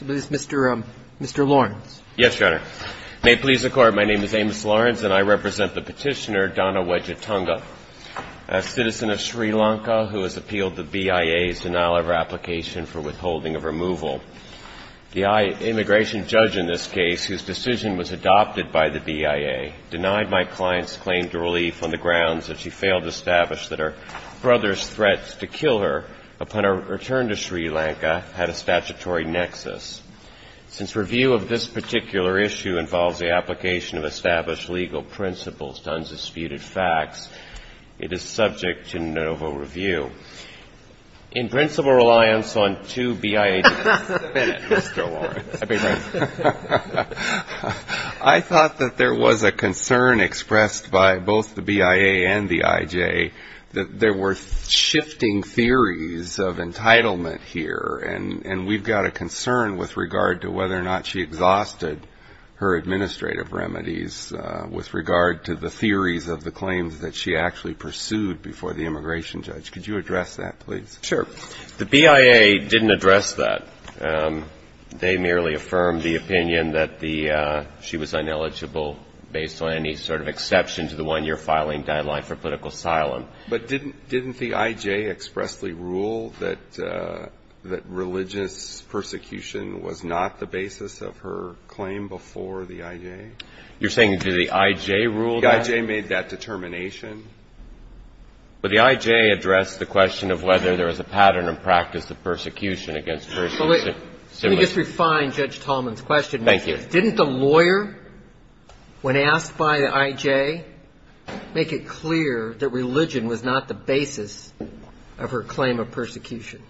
Mr. Lawrence. Yes, Your Honor. May it please the Court, my name is Amos Lawrence, and I represent the petitioner Donna Wejetunga, a citizen of Sri Lanka who has appealed the BIA's denial of her application for withholding of removal. The immigration judge in this case, whose decision was adopted by the BIA, denied my client's claim to relief on the grounds that she failed to establish that her brother's threat to kill her upon her return to Sri Lanka had a statutory nexus. Since review of this particular issue involves the application of established legal principles to undisputed facts, it is subject to no review. In principle reliance on two BIA judges I thought that there was a concern expressed by both the BIA and the IJ that there were shifting theories of entitlement here, and we've got a concern with regard to whether or not she exhausted her administrative remedies with regard to the theories of the claims that she actually pursued before the immigration judge. Could you address that, please? Sure. The BIA didn't address that. They merely affirmed the opinion that she was ineligible based on any sort of exception to the one-year filing guideline for political asylum. But didn't the IJ expressly rule that religious persecution was not the basis of her claim before the IJ? You're saying did the IJ rule that? The IJ made that determination. But the IJ addressed the question of whether there was a pattern of practice of persecution against persons of similar – Let me just refine Judge Tallman's question. Thank you. Didn't the lawyer, when asked by the IJ, make it clear that religion was not the basis of her claim of persecution?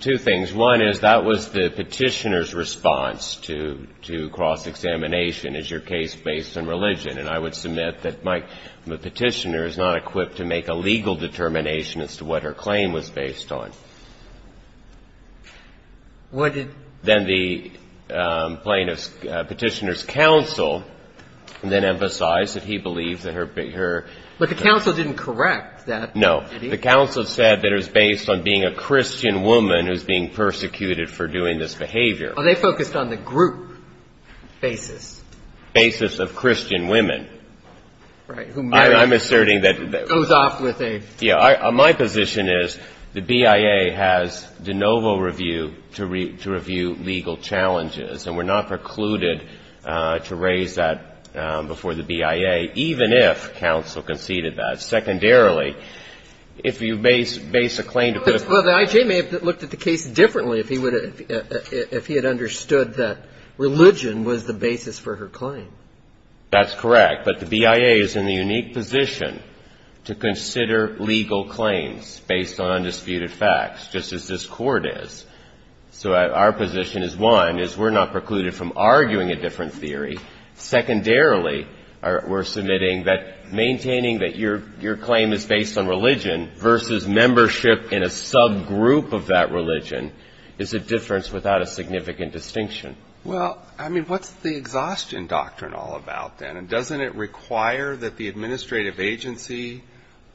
Two things. One is that was the petitioner's response to cross-examination. Is your case based on religion? And I would submit that the petitioner is not equipped to make a legal determination as to what her claim was based on. What did – Then the plaintiff's – petitioner's counsel then emphasized that he believes that her – But the counsel didn't correct that. No. The counsel said that it was based on being a Christian woman who's being persecuted for doing this behavior. Well, they focused on the group basis. Basis of Christian women. Right. Who merely – I'm asserting that – Goes off with a – Yeah. My position is the BIA has de novo review to review legal challenges. And we're not precluded to raise that before the BIA, even if counsel conceded that. Secondarily, if you base a claim – Well, the IJ may have looked at the case differently if he would have – if he had understood that religion was the basis for her claim. That's correct. But the BIA is in the unique position to consider legal claims based on undisputed facts, just as this Court is. So our position is, one, is we're not precluded from arguing a different theory. Secondarily, we're submitting that maintaining that your claim is based on religion versus membership in a subgroup of that religion is a difference without a significant distinction. Well, I mean, what's the exhaustion doctrine all about, then? And doesn't it require that the administrative agency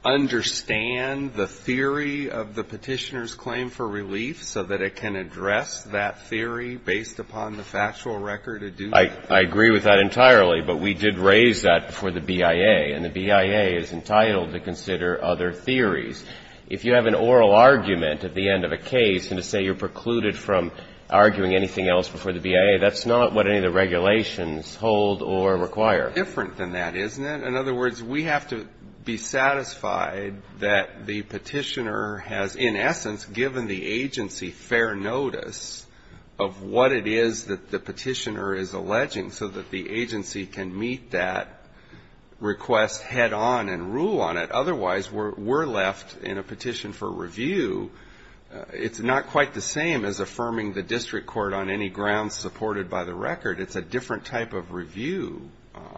understand the theory of the Petitioner's claim for relief so that it can address that theory based upon the factual record? I agree with that entirely, but we did raise that before the BIA. And the BIA is entitled to consider other theories. If you have an oral argument at the end of a case and say you're precluded from arguing anything else before the BIA, that's not what any of the regulations hold or require. It's different than that, isn't it? In other words, we have to be satisfied that the Petitioner has, in essence, given the agency fair notice of what it is that the Petitioner is alleging so that the agency can meet that request head on and rule on it. Otherwise, we're left in a petition for review. It's not quite the same as affirming the district court on any grounds supported by the record. It's a different type of review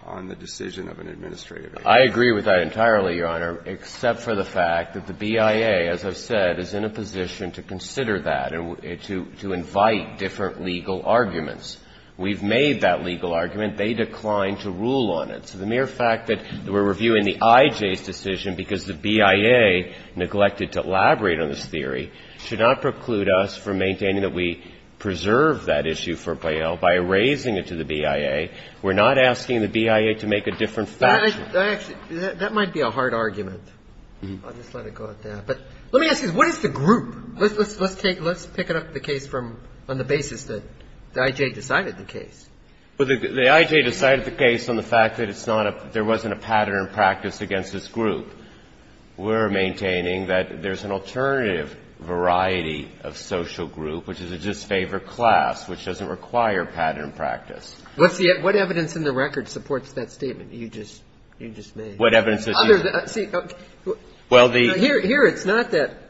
on the decision of an administrative agency. I agree with that entirely, Your Honor, except for the fact that the BIA, as I've said, is in a position to consider that and to invite different legal arguments. We've made that legal argument. They declined to rule on it. So the mere fact that we're reviewing the IJ's decision because the BIA neglected to elaborate on this theory should not preclude us from maintaining that we preserve that issue for Biel by erasing it to the BIA. We're not asking the BIA to make a different factual argument. That might be a hard argument. I'll just let it go at that. But let me ask you this. What is the group? Let's pick up the case from the basis that the IJ decided the case. Well, the IJ decided the case on the fact that it's not a – there wasn't a pattern of practice against this group. We're maintaining that there's an alternative variety of social group, which is a disfavored class, which doesn't require pattern of practice. What evidence in the record supports that statement you just made? What evidence is used? Well, the – Here it's not that –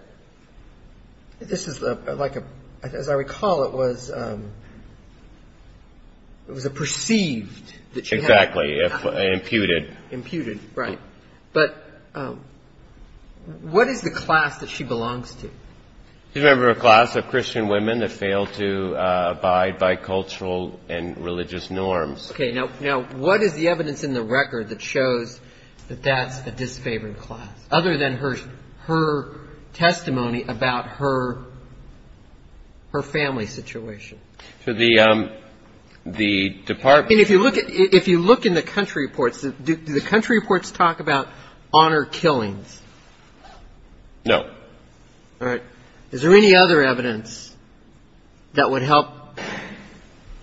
this is like a – as I recall, it was a perceived. Exactly. Imputed. Imputed, right. But what is the class that she belongs to? She's a member of a class of Christian women that failed to abide by cultural and religious norms. Okay. Now, what is the evidence in the record that shows that that's a disfavored class, other than her testimony about her family situation? So the department – If you look in the country reports, do the country reports talk about honor killings? No. All right. Is there any other evidence that would help,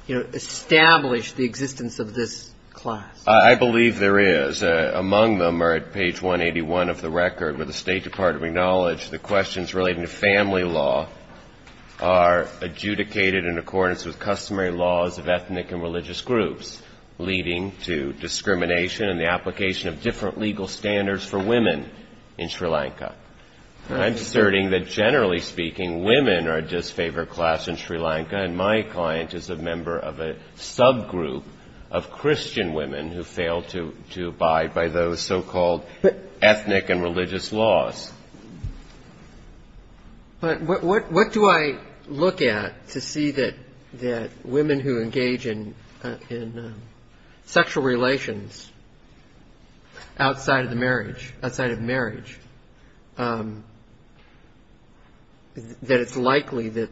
you know, establish the existence of this class? I believe there is. The – among them are at page 181 of the record, where the State Department acknowledged the questions relating to family law are adjudicated in accordance with customary laws of ethnic and religious groups, leading to discrimination and the application of different legal standards for women in Sri Lanka. I'm asserting that, generally speaking, women are a disfavored class in Sri Lanka, and my client is a member of a subgroup of Christian women who failed to abide by those so-called ethnic and religious laws. But what do I look at to see that women who engage in sexual relations outside of marriage, that it's likely that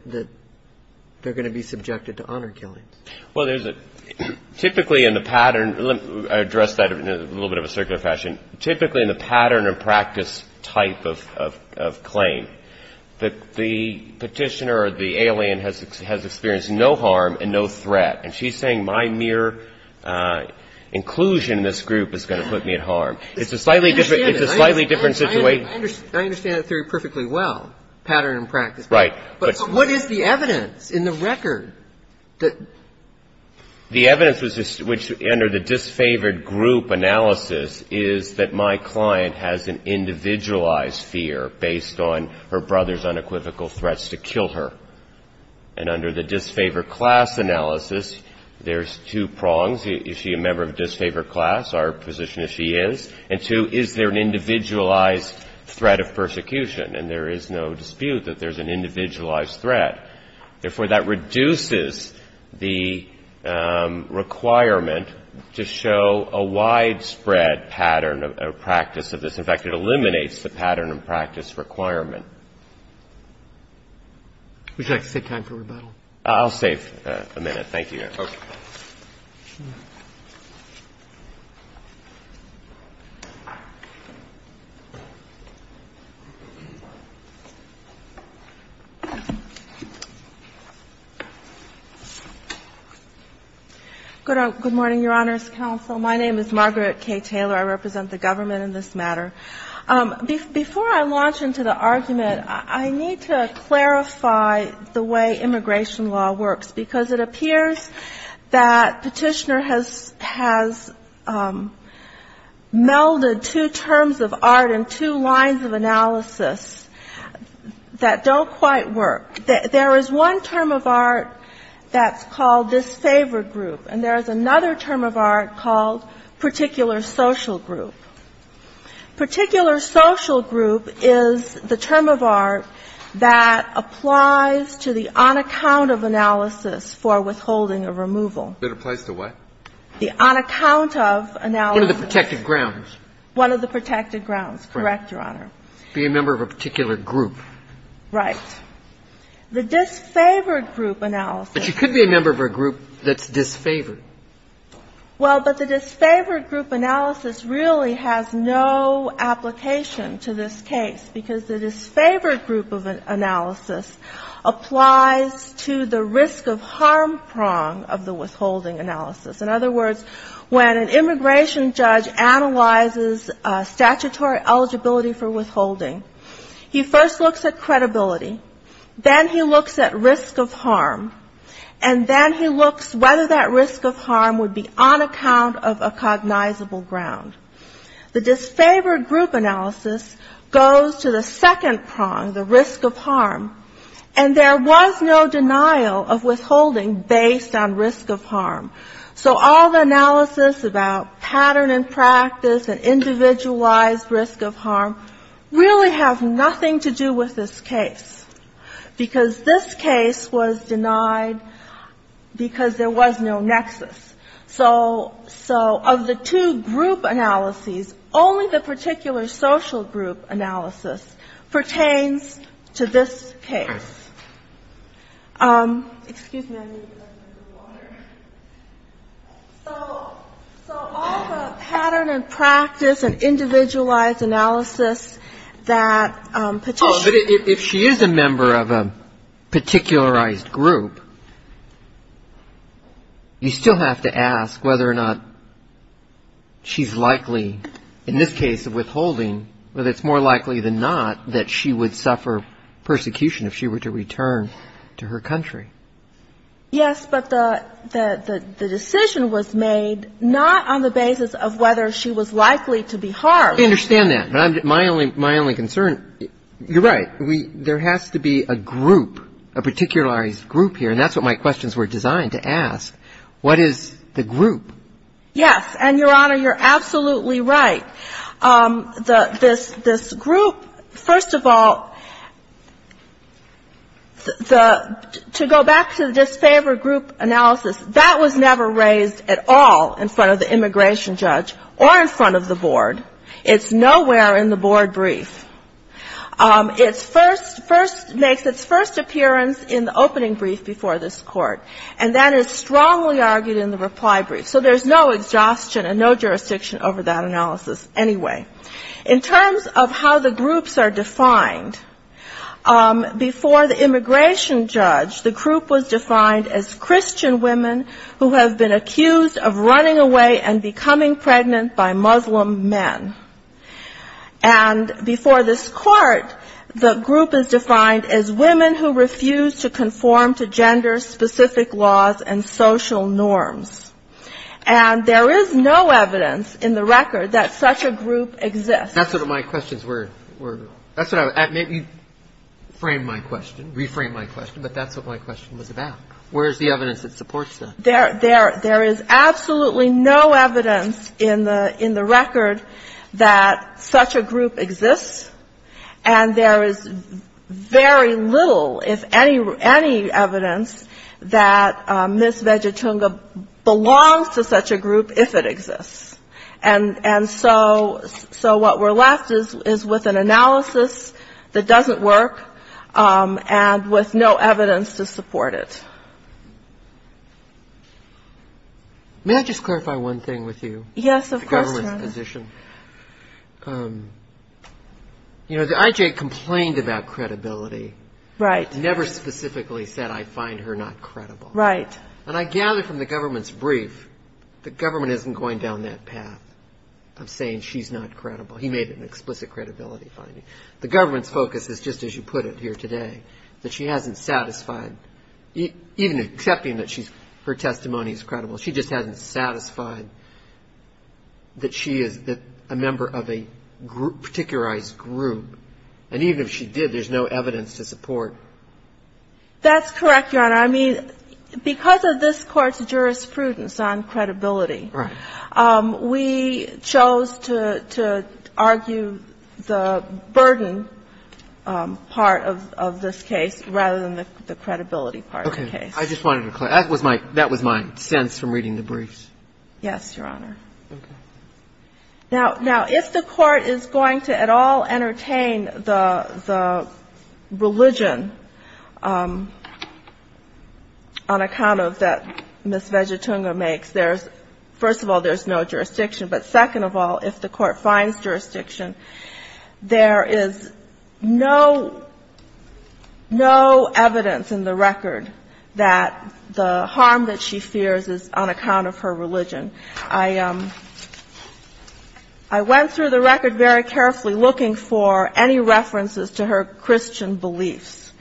they're going to be subjected to honor killings? Well, there's a – typically in the pattern – let me address that in a little bit of a circular fashion. Typically in the pattern of practice type of claim, the petitioner or the alien has experienced no harm and no threat, and she's saying my mere inclusion in this group is going to put me at harm. It's a slightly different – it's a slightly different situation. I understand it. I understand the theory perfectly well, pattern and practice. Right. But what is the evidence in the record that – The evidence which under the disfavored group analysis is that my client has an individualized fear based on her brother's unequivocal threats to kill her. And under the disfavored class analysis, there's two prongs. Is she a member of a disfavored class? Our position is she is. And two, is there an individualized threat of persecution? And there is no dispute that there's an individualized threat. Therefore, that reduces the requirement to show a widespread pattern of practice of this. In fact, it eliminates the pattern and practice requirement. Would you like to take time for rebuttal? I'll save a minute. Thank you, Your Honor. Okay. Good morning, Your Honor's counsel. My name is Margaret K. Taylor. I represent the government in this matter. Before I launch into the argument, I need to clarify the way immigration law works, because it appears that Petitioner has melded two terms of art and two lines of analysis that don't quite work. There is one term of art that's called disfavored group, and there is another term of art called particular social group. Particular social group is the term of art that applies to the on-account-of analysis for withholding a removal. It applies to what? The on-account-of analysis. One of the protected grounds. One of the protected grounds. Correct, Your Honor. Being a member of a particular group. Right. The disfavored group analysis. But you could be a member of a group that's disfavored. Well, but the disfavored group analysis really has no application to this case, because the disfavored group of analysis applies to the risk-of-harm prong of the withholding analysis. In other words, when an immigration judge analyzes statutory eligibility for withholding, he first looks at credibility. Then he looks at risk-of-harm. And then he looks whether that risk-of-harm would be on account of a cognizable ground. The disfavored group analysis goes to the second prong, the risk-of-harm. And there was no denial of withholding based on risk-of-harm. So all the analysis about pattern and practice and individualized risk-of-harm really have nothing to do with this case, because this case was denied because there was no nexus. So of the two group analyses, only the particular social group analysis pertains to this case. Excuse me. So all the pattern and practice and individualized analysis that petitioners have to look at is whether or not she is a member of a particularized group. You still have to ask whether or not she's likely, in this case of withholding, whether it's more likely than not that she would suffer persecution if she were to return to her country. Yes, but the decision was made not on the basis of whether she was likely to be harmed. I understand that, but my only concern, you're right. There has to be a group, a particularized group here, and that's what my questions were designed to ask. What is the group? Yes, and, Your Honor, you're absolutely right. This group, first of all, to go back to the disfavored group analysis, that was never raised at all in front of the immigration judge or in front of the board. It's nowhere in the board brief. It makes its first appearance in the opening brief before this Court, and that is strongly argued in the reply brief. So there's no exhaustion and no jurisdiction over that analysis anyway. In terms of how the groups are defined, before the immigration judge, the group was defined as Christian women who have been accused of running away and becoming pregnant by Muslim men. And before this Court, the group is defined as women who refuse to conform to gender-specific laws and social norms. And there is no evidence in the record that such a group exists. That's what my questions were. That's what I was going to ask. Maybe frame my question, reframe my question, but that's what my question was about. Where is the evidence that supports that? There is absolutely no evidence in the record that such a group exists, and there is very little, if any, evidence that Ms. Vegetunga belongs to such a group, if it exists. And so what we're left is with an analysis that doesn't work and with no evidence to support it. May I just clarify one thing with you? Yes, of course, Your Honor. The government's position. You know, the IJ complained about credibility. Right. Never specifically said, I find her not credible. Right. And I gather from the government's brief, the government isn't going down that path of saying she's not credible. He made an explicit credibility finding. The government's focus is, just as you put it here today, that she hasn't satisfied, even accepting that her testimony is credible. She just hasn't satisfied that she is a member of a particularized group. And even if she did, there's no evidence to support. That's correct, Your Honor. I mean, because of this Court's jurisprudence on credibility. Right. We chose to argue the burden part of this case rather than the credibility part of the case. Okay. I just wanted to clarify. That was my sense from reading the briefs. Yes, Your Honor. Okay. Now, if the Court is going to at all entertain the religion on account of that Ms. But second of all, if the Court finds jurisdiction, there is no evidence in the record that the harm that she fears is on account of her religion. I went through the record very carefully looking for any references to her Christian beliefs.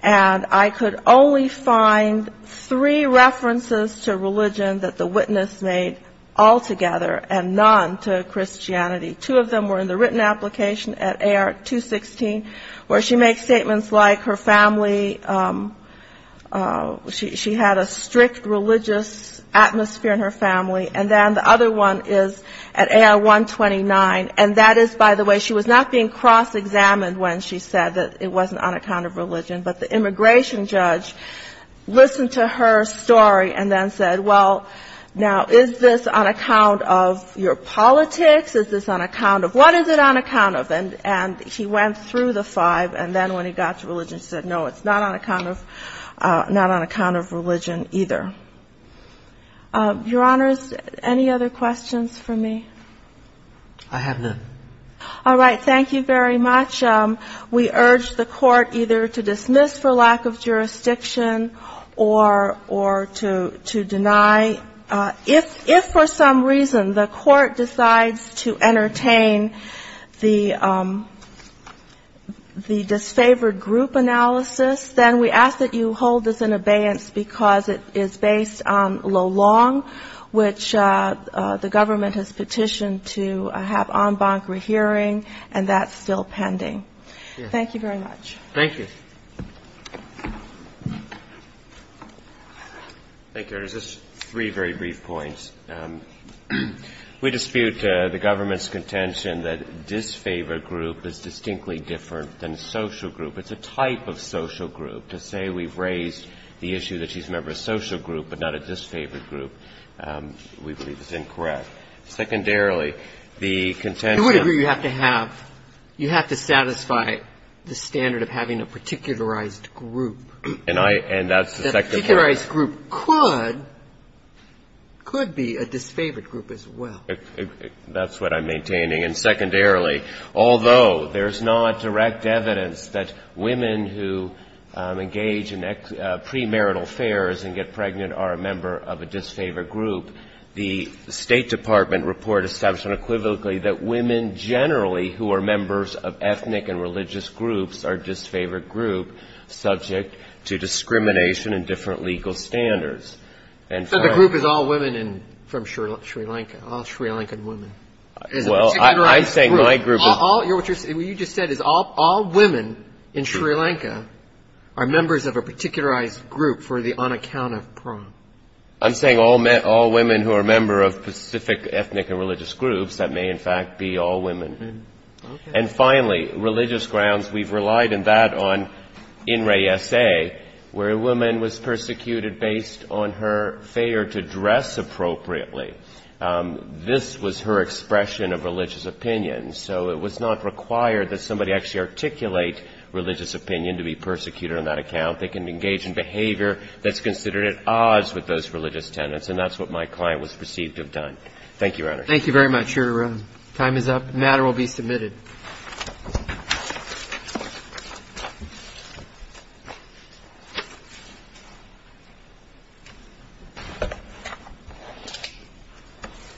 And I could only find three references to religion that the witness made altogether and none to Christianity. Two of them were in the written application at AR-216, where she makes statements like her family, she had a strict religious atmosphere in her family. And then the other one is at AR-129. And that is, by the way, she was not being cross-examined when she said that it wasn't on account of religion. But the immigration judge listened to her story and then said, well, now, is this on account of your politics? Is this on account of what is it on account of? And he went through the five. And then when he got to religion, he said, no, it's not on account of religion either. Your Honors, any other questions for me? I have none. All right. Thank you very much. We urge the Court either to dismiss for lack of jurisdiction or to deny. If for some reason the Court decides to entertain the disfavored group analysis, then we ask that you hold this in abeyance because it is based on Lo Long, which the government has petitioned to have en banc rehearing, and that's still pending. Thank you very much. Thank you. Thank you, Your Honors. Just three very brief points. We dispute the government's contention that disfavored group is distinctly different than social group. It's a type of social group. To say we've raised the issue that she's a member of a social group but not a disfavored group, we believe is incorrect. Secondarily, the contention of the group could be a disfavored group as well. That's what I'm maintaining. And secondarily, although there's not direct evidence that women who engage in premarital affairs and get pregnant are a member of a disfavored group, the State Department report established unequivocally that women generally who are members of ethnic and religious groups are a disfavored group subject to discrimination and different legal standards. So the group is all women from Sri Lanka, all Sri Lankan women? Well, I'm saying my group is. What you just said is all women in Sri Lanka are members of a particularized group for the unaccounted prom. I'm saying all women who are a member of specific ethnic and religious groups, that may in fact be all women. And finally, religious grounds, we've relied on that on INRAE-SA, where a woman was persecuted based on her failure to dress appropriately. This was her expression of religious opinion, so it was not required that somebody actually articulate religious opinion to be persecuted on that account. They can engage in behavior that's considered at odds with those religious tenets, and that's what my client was perceived to have done. Thank you, Your Honor. Thank you very much. Your time is up. The matter will be submitted. Thank you.